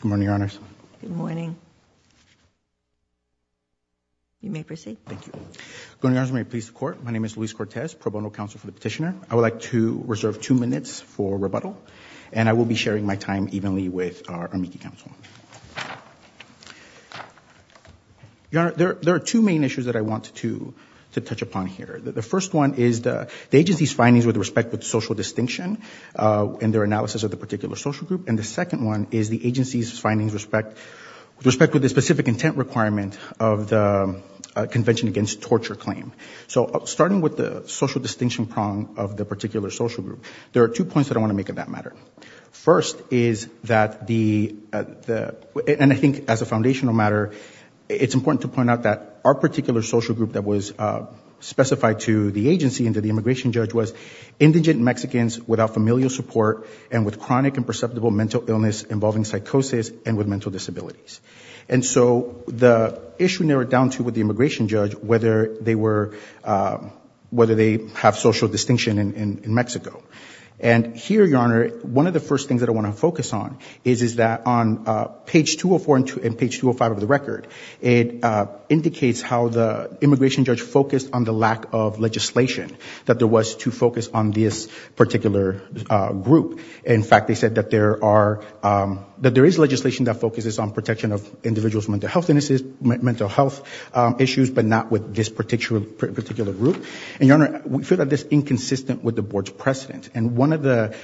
Good morning, Your Honors. Good morning. You may proceed. Thank you. Good morning, Your Honors. May it please the Court, my name is Luis Cortez, pro bono counsel for the petitioner. I would like to reserve two minutes for rebuttal, and I will be sharing my time evenly with our amici counsel. Your Honor, there are two main issues that I want to touch upon here. The first one is the agency's findings with respect with social distinction in their analysis of the particular social group, and the second one is the agency's findings with respect with the specific intent requirement of the Convention Against Torture claim. So starting with the social distinction prong of the particular social group, there are two points that I want to make on that matter. First is that the, and I think as a foundational matter, it's important to point out that our particular social group that was specified to the agency and to the immigration judge was indigent Mexicans without familial support and with chronic and perceptible mental illness involving psychosis and with mental disabilities. And so the issue narrowed down to with the immigration judge, whether they were, whether they have social distinction in Mexico. And here, Your Honor, one of the first things that I want to focus on is that on page 204 and page 205 of the record, it indicates how the immigration judge focused on the lack of legislation that there was to focus on this particular group. In fact, they said that there are, that there is legislation that focuses on protection of individuals' mental health, mental health issues, but not with this particular group. And Your Honor, we feel that this inconsistent with the board's precedent. And one of the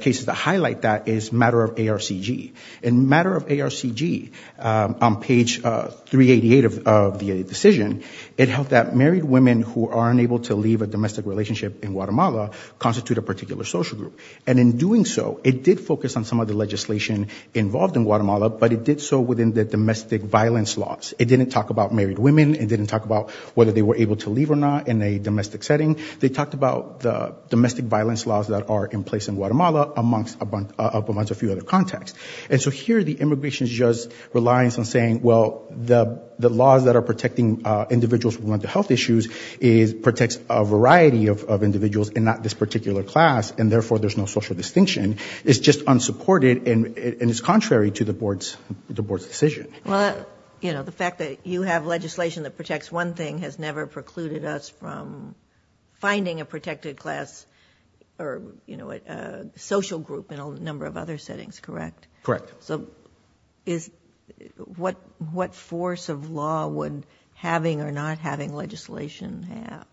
cases that highlight that is matter of ARCG. In matter of ARCG, on page 388 of the decision, it held that married women who are unable to leave a domestic relationship in Guatemala constitute a particular social group. And in doing so, it did focus on some of the legislation involved in Guatemala, but it did so within the domestic violence laws. It didn't talk about married women, it didn't talk about whether they were able to leave or not in a domestic setting. They talked about the domestic violence laws that are in place in Guatemala amongst a few other contexts. And so here, the immigration judge's reliance on saying, well, the laws that are protecting individuals' mental health issues protects a variety of individuals and not this particular class, and therefore there's no social distinction, is just unsupported and is contrary to the board's decision. Well, you know, the fact that you have legislation that protects one thing has never precluded us from finding a protected class or, you know, a social group in a number of other settings, correct? Correct. So is, what, what force of law would having or not having legislation have?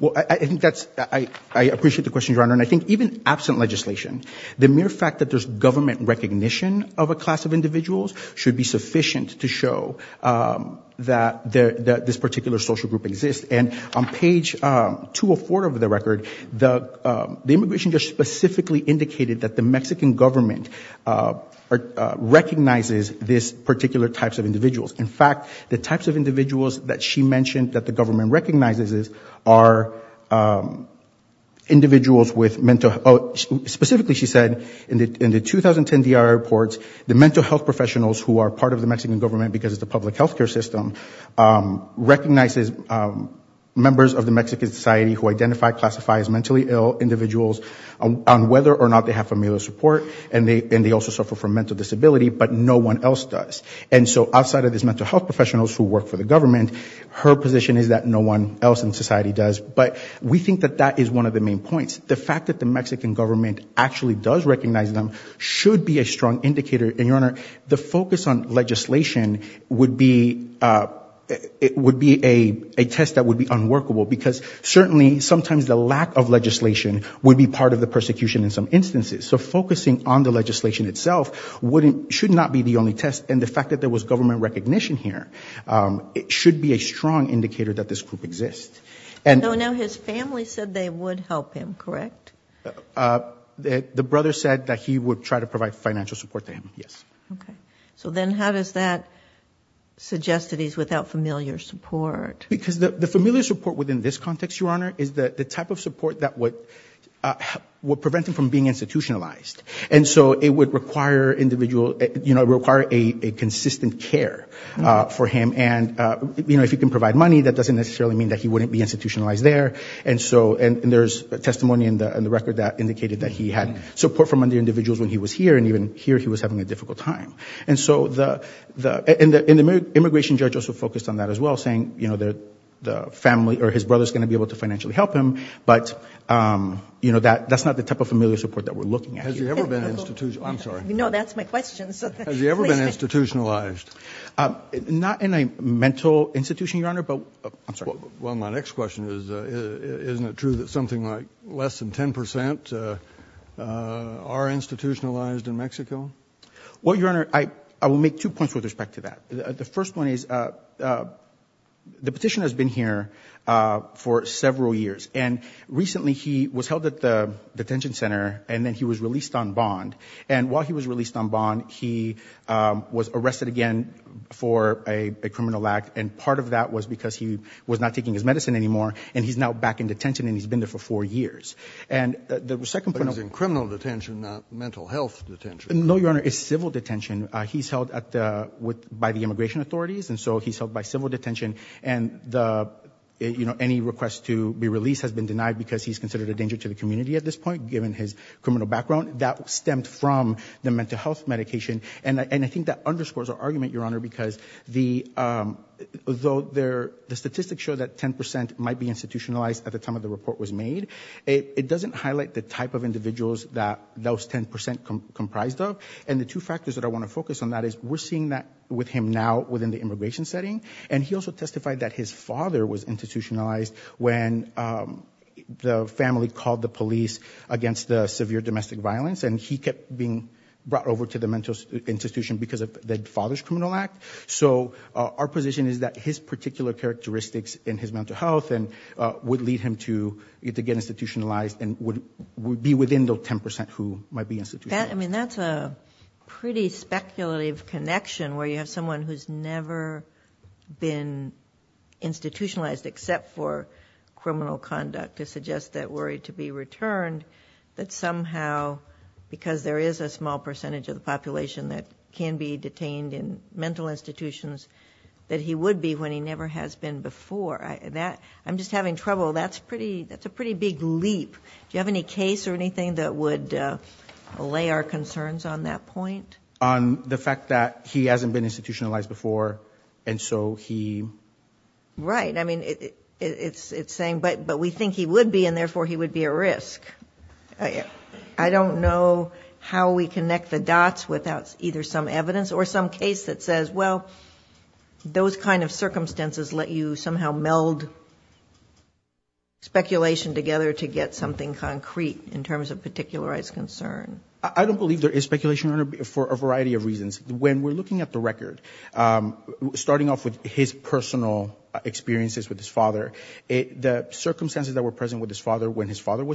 Well, I think that's, I appreciate the question, Your Honor, and I think even absent legislation, the mere fact that there's government recognition of a class of individuals should be sufficient to show that this particular social group exists. And on page 204 of the record, the immigration judge specifically indicated that the Mexican government recognizes this particular types of individuals. In fact, the types of individuals that she mentioned that the government recognizes are individuals with mental health, specifically, she said, in the 2010 D.R. reports, the mental health professionals who are part of the Mexican government, because it's a public health care system, recognizes members of the Mexican society who identify, classify as mentally ill individuals on whether or not they have familial support, and they also suffer from mental disability, but no one else does. And so outside of these mental health professionals who work for the government, her position is that no one else in society does. But we think that that is one of the main points. The fact that the Mexican government actually does recognize them should be a strong indicator, and, Your Honor, the focus on legislation would be a test that would be unworkable, because certainly sometimes the lack of legislation would be part of the persecution in some instances. So focusing on the legislation itself should not be the only test, and the fact that there was government recognition here, it should be a strong indicator that this group exists. And though now his family said they would help him, correct? The brother said that he would try to provide financial support to him, yes. So then how does that suggest that he's without familial support? Because the familial support within this context, Your Honor, is the type of support that would prevent him from being institutionalized. And so it would require a consistent care for him, and if he can provide money, that doesn't necessarily mean that he wouldn't be institutionalized there. And so there's testimony in the record that indicated that he had support from other individuals when he was here, and even here he was having a difficult time. And so the immigration judge also focused on that as well, saying, you know, the family, or his brother's going to be able to financially help him, but, you know, that's not the type of familial support that we're looking at here. Has he ever been institutionalized? I'm sorry. No, that's my question. Has he ever been institutionalized? Not in a mental institution, Your Honor, but, I'm sorry. Well, my next question is, isn't it true that something like less than 10 percent are institutionalized in Mexico? Well, Your Honor, I will make two points with respect to that. The first one is, the petitioner has been here for several years, and recently he was held at the detention center, and then he was released on bond. And while he was released on bond, he was arrested again for a criminal act, and part of that was because he was not taking his medicine anymore, and he's now back in detention, and he's been there for four years. And the second point— But he's in criminal detention, not mental health detention. No, Your Honor, it's civil detention. He's held by the immigration authorities, and so he's held by civil detention. And, you know, any request to be released has been denied because he's considered a danger to the community at this point, given his criminal background. That stemmed from the mental health medication, and I think that underscores our argument, Your Honor, because the statistics show that 10% might be institutionalized at the time of the report was made. It doesn't highlight the type of individuals that those 10% comprised of, and the two factors that I want to focus on that is, we're seeing that with him now within the immigration setting, and he also testified that his father was institutionalized when the family called the police against the severe domestic violence, and he kept being brought over to the mental health institution because of the Father's Criminal Act. So our position is that his particular characteristics in his mental health would lead him to get institutionalized and would be within those 10% who might be institutionalized. I mean, that's a pretty speculative connection, where you have someone who's never been institutionalized except for criminal conduct, to suggest that worry to be returned, that somehow, because there is a small percentage of the population that can be detained in mental institutions, that he would be when he never has been before. I'm just having trouble. That's a pretty big leap. Do you have any case or anything that would allay our concerns on that point? On the fact that he hasn't been institutionalized before, and so he... Right. I mean, it's saying, but we think he would be, and therefore he would be a risk. I don't know how we connect the dots without either some evidence or some case that says, well, those kind of circumstances let you somehow meld speculation together to get something concrete in terms of particularized concern. I don't believe there is speculation for a variety of reasons. When we're looking at the record, starting off with his personal experiences with his being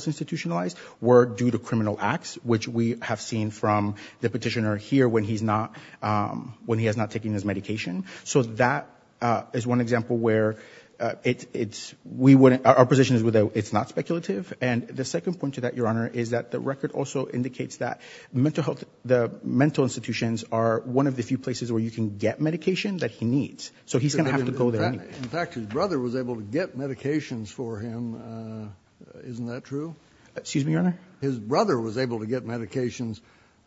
institutionalized were due to criminal acts, which we have seen from the petitioner here when he has not taken his medication. That is one example where our position is that it's not speculative. The second point to that, Your Honor, is that the record also indicates that the mental institutions are one of the few places where you can get medication that he needs, so he's going to have to go there anyway. In fact, his brother was able to get medications for him. Isn't that true? Excuse me, Your Honor? His brother was able to get medications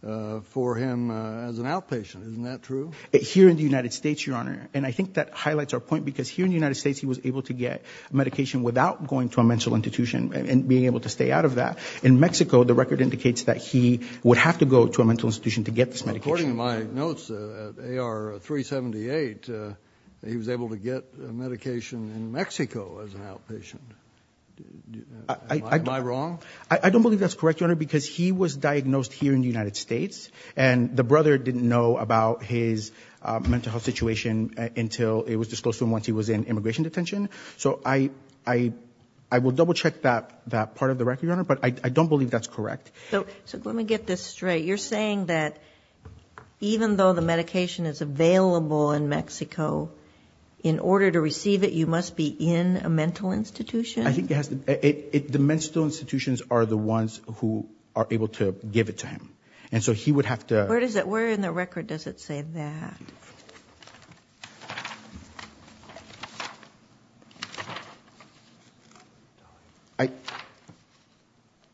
for him as an outpatient. Isn't that true? Here in the United States, Your Honor, and I think that highlights our point because here in the United States he was able to get medication without going to a mental institution and being able to stay out of that. In Mexico, the record indicates that he would have to go to a mental institution to get this medication. According to my notes, at AR 378, he was able to get medication in Mexico as an outpatient. Am I wrong? I don't believe that's correct, Your Honor, because he was diagnosed here in the United States and the brother didn't know about his mental health situation until it was disclosed to him once he was in immigration detention. So I will double check that part of the record, Your Honor, but I don't believe that's correct. So let me get this straight. You're saying that even though the medication is available in Mexico, in order to receive it you must be in a mental institution? I think it has to be. The mental institutions are the ones who are able to give it to him. And so he would have to... Where in the record does it say that?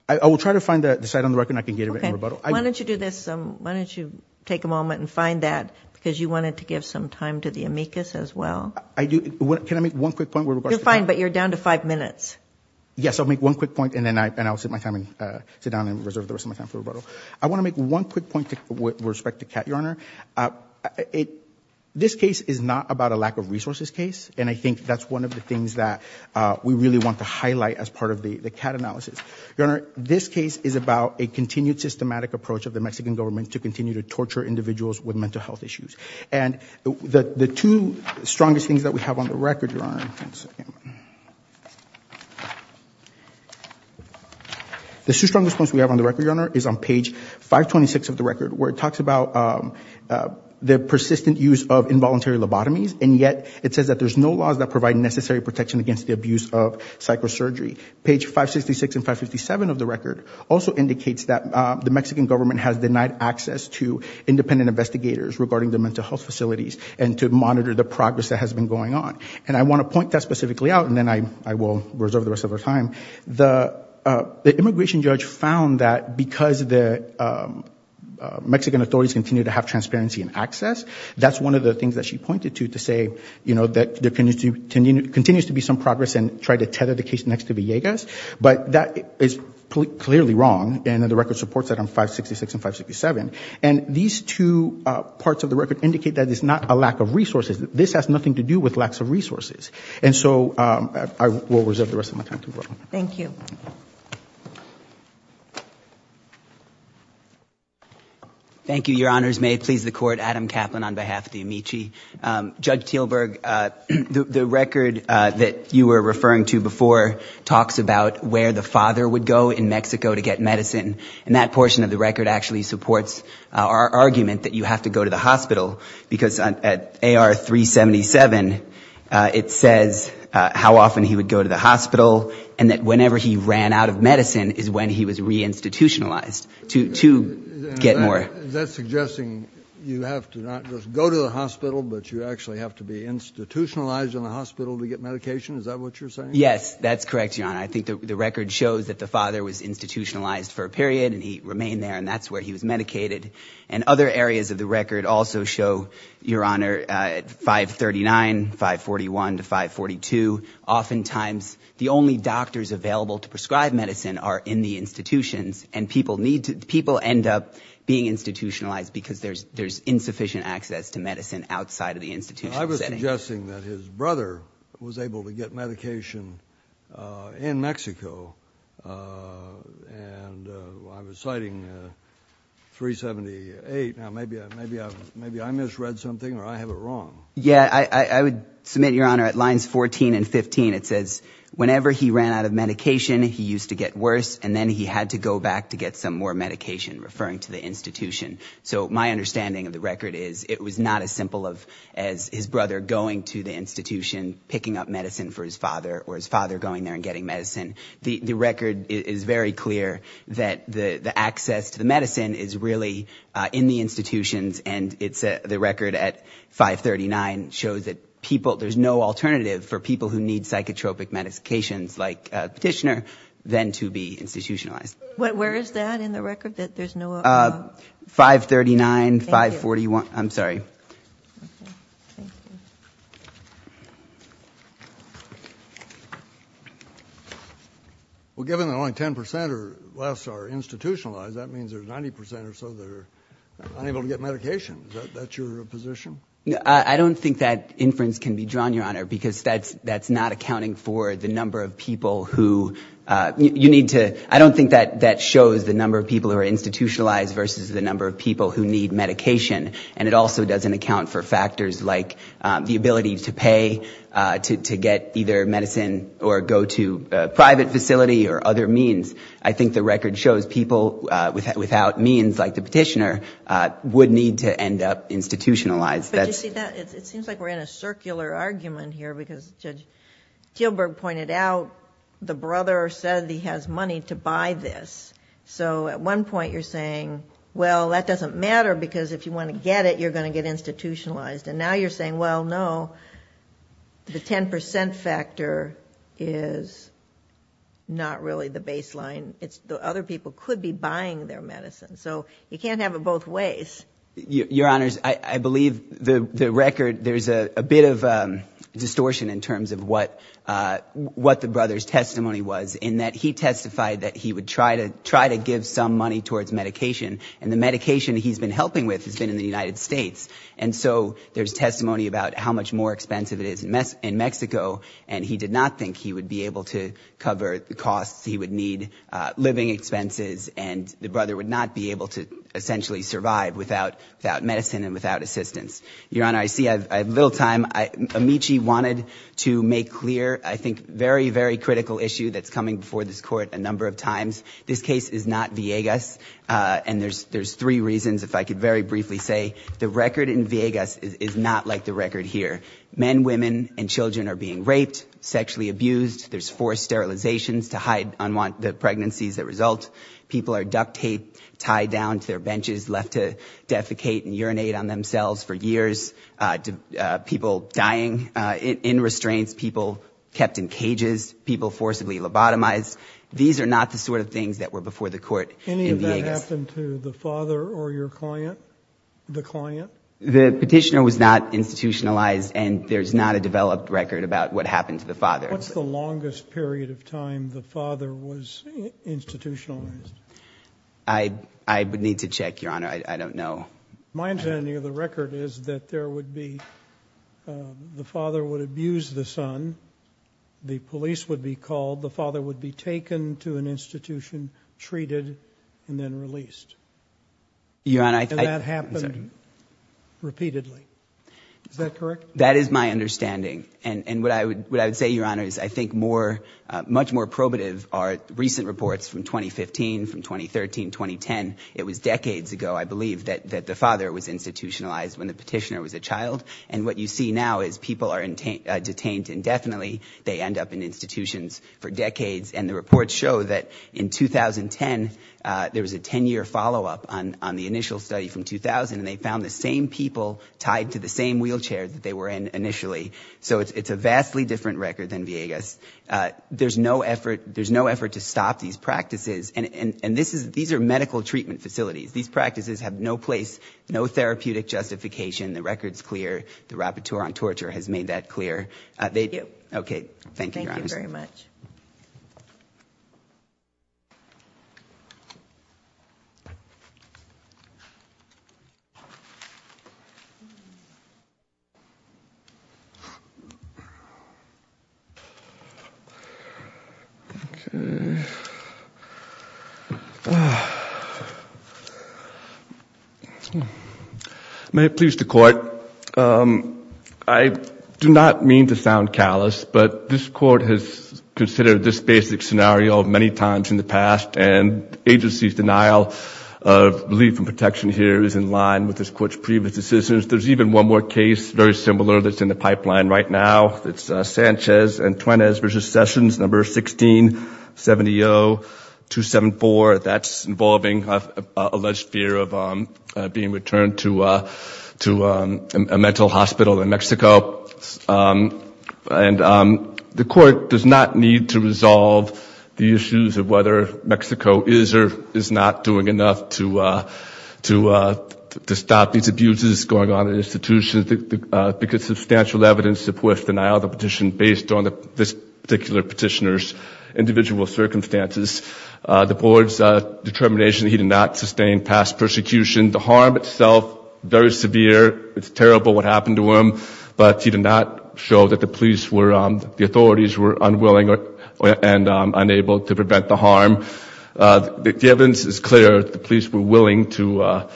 I will try to find the site on the record and I can get it in rebuttal. Why don't you do this? Why don't you take a moment and find that because you wanted to give some time to the amicus as well. I do. Can I make one quick point? You're fine, but you're down to five minutes. Yes, I'll make one quick point and then I'll sit down and reserve the rest of my time for rebuttal. I want to make one quick point with respect to CAT, Your Honor. This case is not about a lack of resources case and I think that's one of the things that we really want to highlight as part of the CAT analysis. Your Honor, this case is about a continued systematic approach of the Mexican government to continue to torture individuals with mental health issues. And the two strongest things that we have on the record, Your Honor... The two strongest points we have on the record, Your Honor, is on page 526 of the record where it talks about the persistent use of involuntary lobotomies and yet it says that there's no laws that provide necessary protection against the abuse of psychosurgery. Page 566 and 557 of the record also indicates that the Mexican government has denied access to independent investigators regarding the mental health facilities and to monitor the progress that has been going on. And I want to point that specifically out and then I will reserve the rest of our time. The immigration judge found that because the Mexican authorities continue to have transparency and access, that's one of the things that she pointed to to say that there continues to be some progress and try to tether the case next to Villegas. But that is clearly wrong and the record supports that on 566 and 567. And these two parts of the record indicate that it's not a lack of resources. This has nothing to do with lacks of resources. And so I will reserve the rest of my time. Thank you. Thank you. Your Honors, may it please the Court, Adam Kaplan on behalf of the Amici. Judge Teelberg, the record that you were referring to before talks about where the father would go in Mexico to get medicine, and that portion of the record actually supports our argument that you have to go to the hospital, because at AR 377, it says how often he would go to the hospital and that whenever he ran out of medicine is when he was reinstitutionalized to get more. Is that suggesting you have to not just go to the hospital, but you actually have to be institutionalized in the hospital to get medication? Is that what you're saying? Yes, that's correct, Your Honor. I think the record shows that the father was institutionalized for a period and he remained there and that's where he was medicated. And other areas of the record also show, Your Honor, at 539, 541 to 542, oftentimes the only doctors available to prescribe medicine are in the institutions. And people end up being institutionalized because there's insufficient access to medicine outside of the institution. I was suggesting that his brother was able to get medication in Mexico and I was citing 378. Now, maybe I misread something or I have it wrong. Yeah, I would submit, Your Honor, at lines 14 and 15, it says whenever he ran out of medication, referring to the institution. So my understanding of the record is it was not as simple as his brother going to the institution, picking up medicine for his father or his father going there and getting medicine. The record is very clear that the access to the medicine is really in the institutions and the record at 539 shows that there's no alternative for people who need psychotropic medications like petitioner than to be institutionalized. Where is that in the record, that there's no alternative? 539, 541. I'm sorry. Okay. Thank you. Well, given that only 10% or less are institutionalized, that means there's 90% or so that are unable to get medication. Is that your position? I don't think that inference can be drawn, Your Honor, because that's not accounting for the number of people who you need to. I don't think that shows the number of people who are institutionalized versus the number of people who need medication and it also doesn't account for factors like the ability to pay to get either medicine or go to a private facility or other means. I think the record shows people without means like the petitioner would need to end up institutionalized. But you see, it seems like we're in a circular argument here because Judge Gilbert pointed out the brother said he has money to buy this. So, at one point you're saying, well, that doesn't matter because if you want to get it, you're going to get institutionalized. And now you're saying, well, no, the 10% factor is not really the baseline. It's the other people could be buying their medicine. So, you can't have it both ways. Your Honors, I believe the record, there's a bit of distortion in terms of what the brother's testimony was in that he testified that he would try to give some money towards medication and the medication he's been helping with has been in the United States. And so, there's testimony about how much more expensive it is in Mexico and he did not think he would be able to cover the costs. He would need living expenses and the brother would not be able to essentially survive without medicine and without assistance. Your Honor, I see I have little time. Amici wanted to make clear, I think, very, very critical issue that's coming before this court a number of times. This case is not Viegas and there's three reasons, if I could very briefly say. The record in Viegas is not like the record here. Men, women, and children are being raped, sexually abused. There's forced sterilizations to hide the pregnancies that result. People are duct taped, tied down to their benches, left to defecate and urinate on themselves for years. People dying in restraints. People kept in cages. People forcibly lobotomized. These are not the sort of things that were before the court in Viegas. Any of that happened to the father or your client? The client? The petitioner was not institutionalized and there's not a developed record about what happened to the father. What's the longest period of time the father was institutionalized? I would need to check, Your Honor. I don't know. My understanding of the record is that there would be, the father would abuse the son. The police would be called. The father would be taken to an institution, treated, and then released. And that happened repeatedly. Is that correct? That is my understanding. And what I would say, Your Honor, is I think much more probative are recent reports from 2015, from 2013, 2010. It was decades ago, I believe, that the father was institutionalized when the petitioner was a child. And what you see now is people are detained indefinitely. They end up in institutions for decades. And the reports show that in 2010, there was a 10-year follow-up on the initial study from 2000 and they found the same people tied to the same wheelchair that they were in initially. So it's a vastly different record than Villegas. There's no effort to stop these practices. And these are medical treatment facilities. These practices have no place, no therapeutic justification. The record's clear. The Rapporteur on Torture has made that clear. Thank you, Your Honor. Thank you very much. May it please the Court. I do not mean to sound callous, but this Court has considered this basic scenario many times in the past. And the agency's denial of relief and protection here is in line with this Court's previous decisions. There's even one more case, very similar, that's in the pipeline right now. It's Sanchez and Tuenes v. Sessions, number 1670274. That's involving alleged fear of being returned to a mental hospital in Mexico. And the Court does not need to resolve the issues of whether Mexico is or is not doing enough to stop these abuses going on in institutions because substantial evidence supports denial of the petition based on this particular petitioner's individual circumstances. The Board's determination that he did not sustain past persecution. The harm itself, very severe. It's terrible what happened to him. But he did not show that the authorities were unwilling and unable to prevent the harm. The evidence is clear. The police were willing to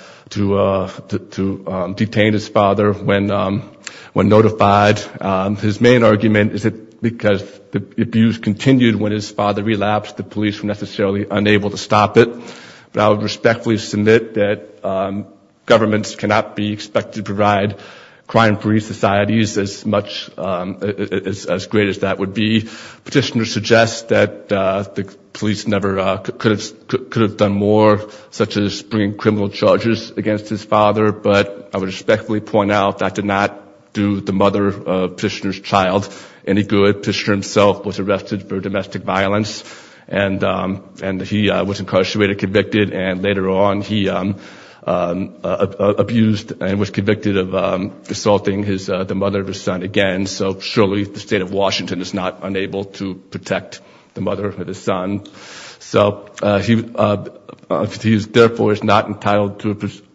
detain his father when notified. His main argument is that because the abuse continued when his father relapsed, the police were necessarily unable to stop it. But I would respectfully submit that governments cannot be expected to provide crime-free societies as great as that would be. The petitioner suggests that the police never could have done more, such as bringing criminal charges against his father. But I would respectfully point out that did not do the mother of the petitioner's child any good. The petitioner himself was arrested for domestic violence. And he was incarcerated, convicted. And later on, he abused and was convicted of assaulting the mother of his son again. So surely the state of Washington is not unable to protect the mother of his son. So he therefore is not entitled to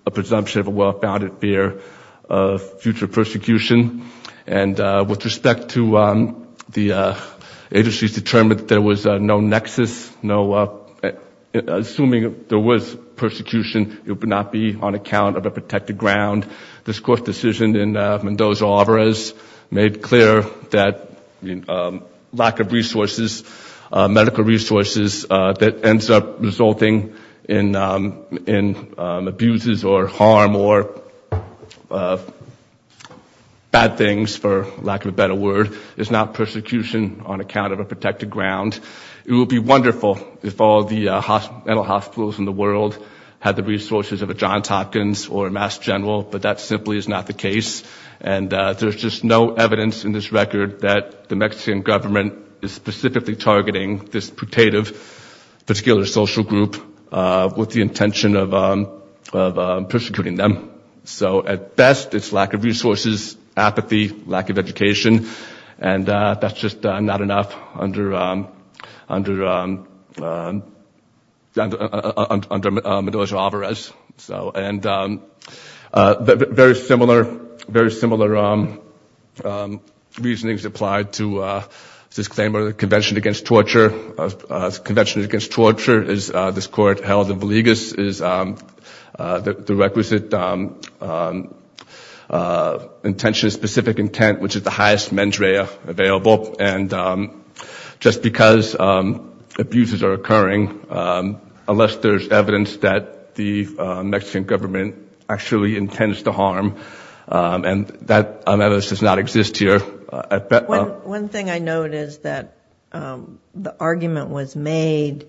a presumption of a well-founded fear of future persecution. And with respect to the agency's determination that there was no nexus, assuming there was persecution, it would not be on account of a protected ground. This court decision in Mendoza-Alvarez made clear that lack of resources, medical resources that ends up resulting in abuses or harm or bad things, for lack of a better word, is not persecution on account of a protected ground. It would be wonderful if all the mental hospitals in the world had the resources of a Johns Hopkins General, but that simply is not the case. And there's just no evidence in this record that the Mexican government is specifically targeting this putative particular social group with the intention of persecuting them. So at best, it's lack of resources, apathy, lack of education. And that's just not enough under Mendoza-Alvarez. And very similar reasonings apply to this claim of Convention Against Torture. Convention Against Torture, as this court held in Villegas, is the requisite intention specific intent, which is the highest mens rea available. And just because abuses are occurring, unless there's evidence that the Mexican government actually intends to harm, and that evidence does not exist here. One thing I note is that the argument was made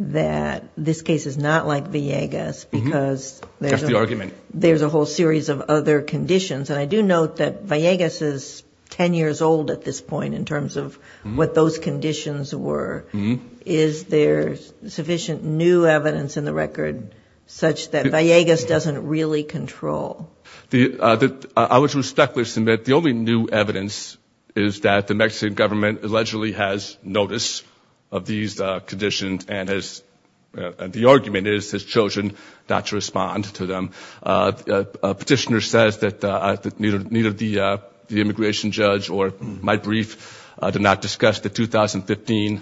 that this case is not like Villegas, because there's a whole series of other conditions. And I do note that Villegas is 10 years old at this point in terms of what those conditions were. Is there sufficient new evidence in the record such that Villegas doesn't really control? I would respectfully submit the only new evidence is that the Mexican government allegedly has notice of these conditions, and the argument is his children not to respond to them. Petitioner says that neither the immigration judge or my brief did not discuss the 2015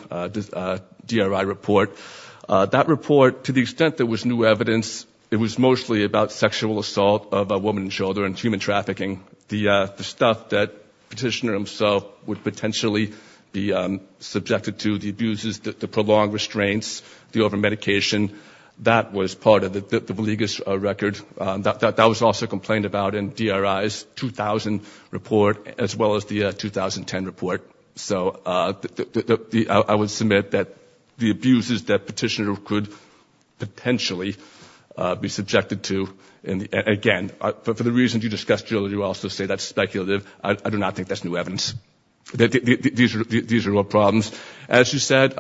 DRI report. That report, to the extent there was new evidence, it was mostly about sexual assault of a woman in shoulder and human trafficking. The stuff that Petitioner himself would potentially be subjected to, the abuses, the prolonged restraints, the over-medication, that was part of the Villegas record. That was also complained about in DRI's 2000 report, as well as the 2010 report. So I would submit that the abuses that Petitioner could potentially be subjected to, and again, for the reasons you discussed earlier, you also say that's speculative. I do not think that's new evidence. These are all problems. As you said,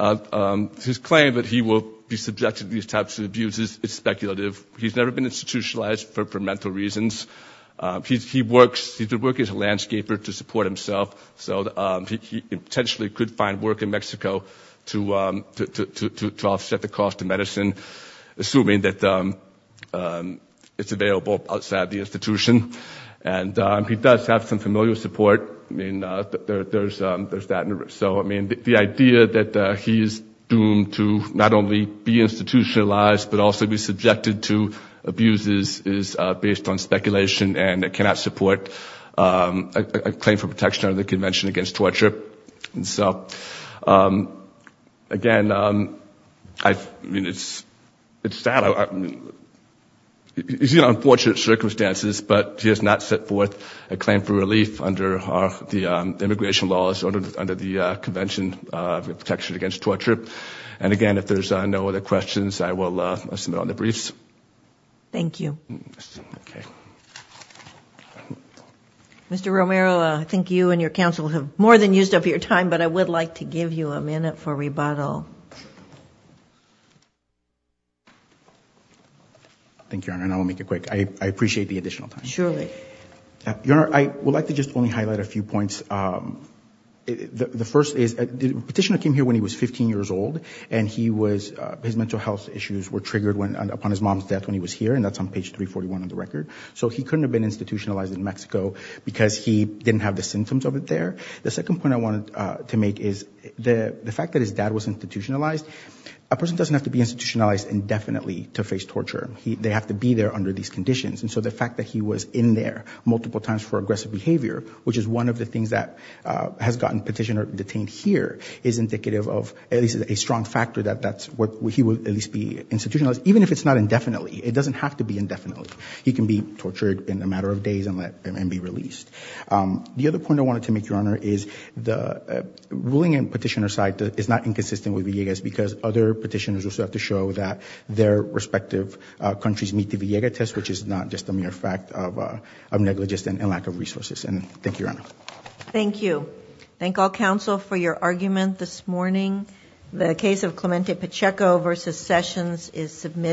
his claim that he will be subjected to these types of abuses is speculative. He's never been institutionalized for mental reasons. He works as a landscaper to support himself, so he potentially could find work in Mexico to offset the cost of medicine, assuming that it's available outside the institution. And he does have some familial support. There's that. The idea that he's doomed to not only be institutionalized, but also be subjected to abuses is based on speculation, and it cannot support a claim for protection under the Convention Against Torture. And so, again, it's sad. He's in unfortunate circumstances, but he has not set forth a claim for relief under the immigration laws, under the Convention Protection Against Torture. And again, if there's no other questions, I will submit on the briefs. Thank you. Mr. Romero, I think you and your counsel have more than used up your time, Thank you, Your Honor, and I'll make it quick. I appreciate the additional time. Surely. Your Honor, I would like to just only highlight a few points. The first is the petitioner came here when he was 15 years old, and his mental health issues were triggered upon his mom's death when he was here, and that's on page 341 of the record. So he couldn't have been institutionalized in Mexico because he didn't have the symptoms of it there. The second point I wanted to make is the fact that his dad was institutionalized. A person doesn't have to be institutionalized indefinitely to face torture. They have to be there under these conditions, and so the fact that he was in there multiple times for aggressive behavior, which is one of the things that has gotten petitioner detained here, is indicative of at least a strong factor that he will at least be institutionalized, even if it's not indefinitely. It doesn't have to be indefinitely. He can be tortured in a matter of days and be released. The other point I wanted to make, Your Honor, is the ruling in petitioner's side is not inconsistent with Villegas because other petitioners also have to show that their respective countries meet the Villegas test, which is not just a mere fact of negligence and lack of resources. Thank you, Your Honor. Thank you. Thank all counsel for your argument this morning. The case of Clemente Pacheco v. Sessions is submitted.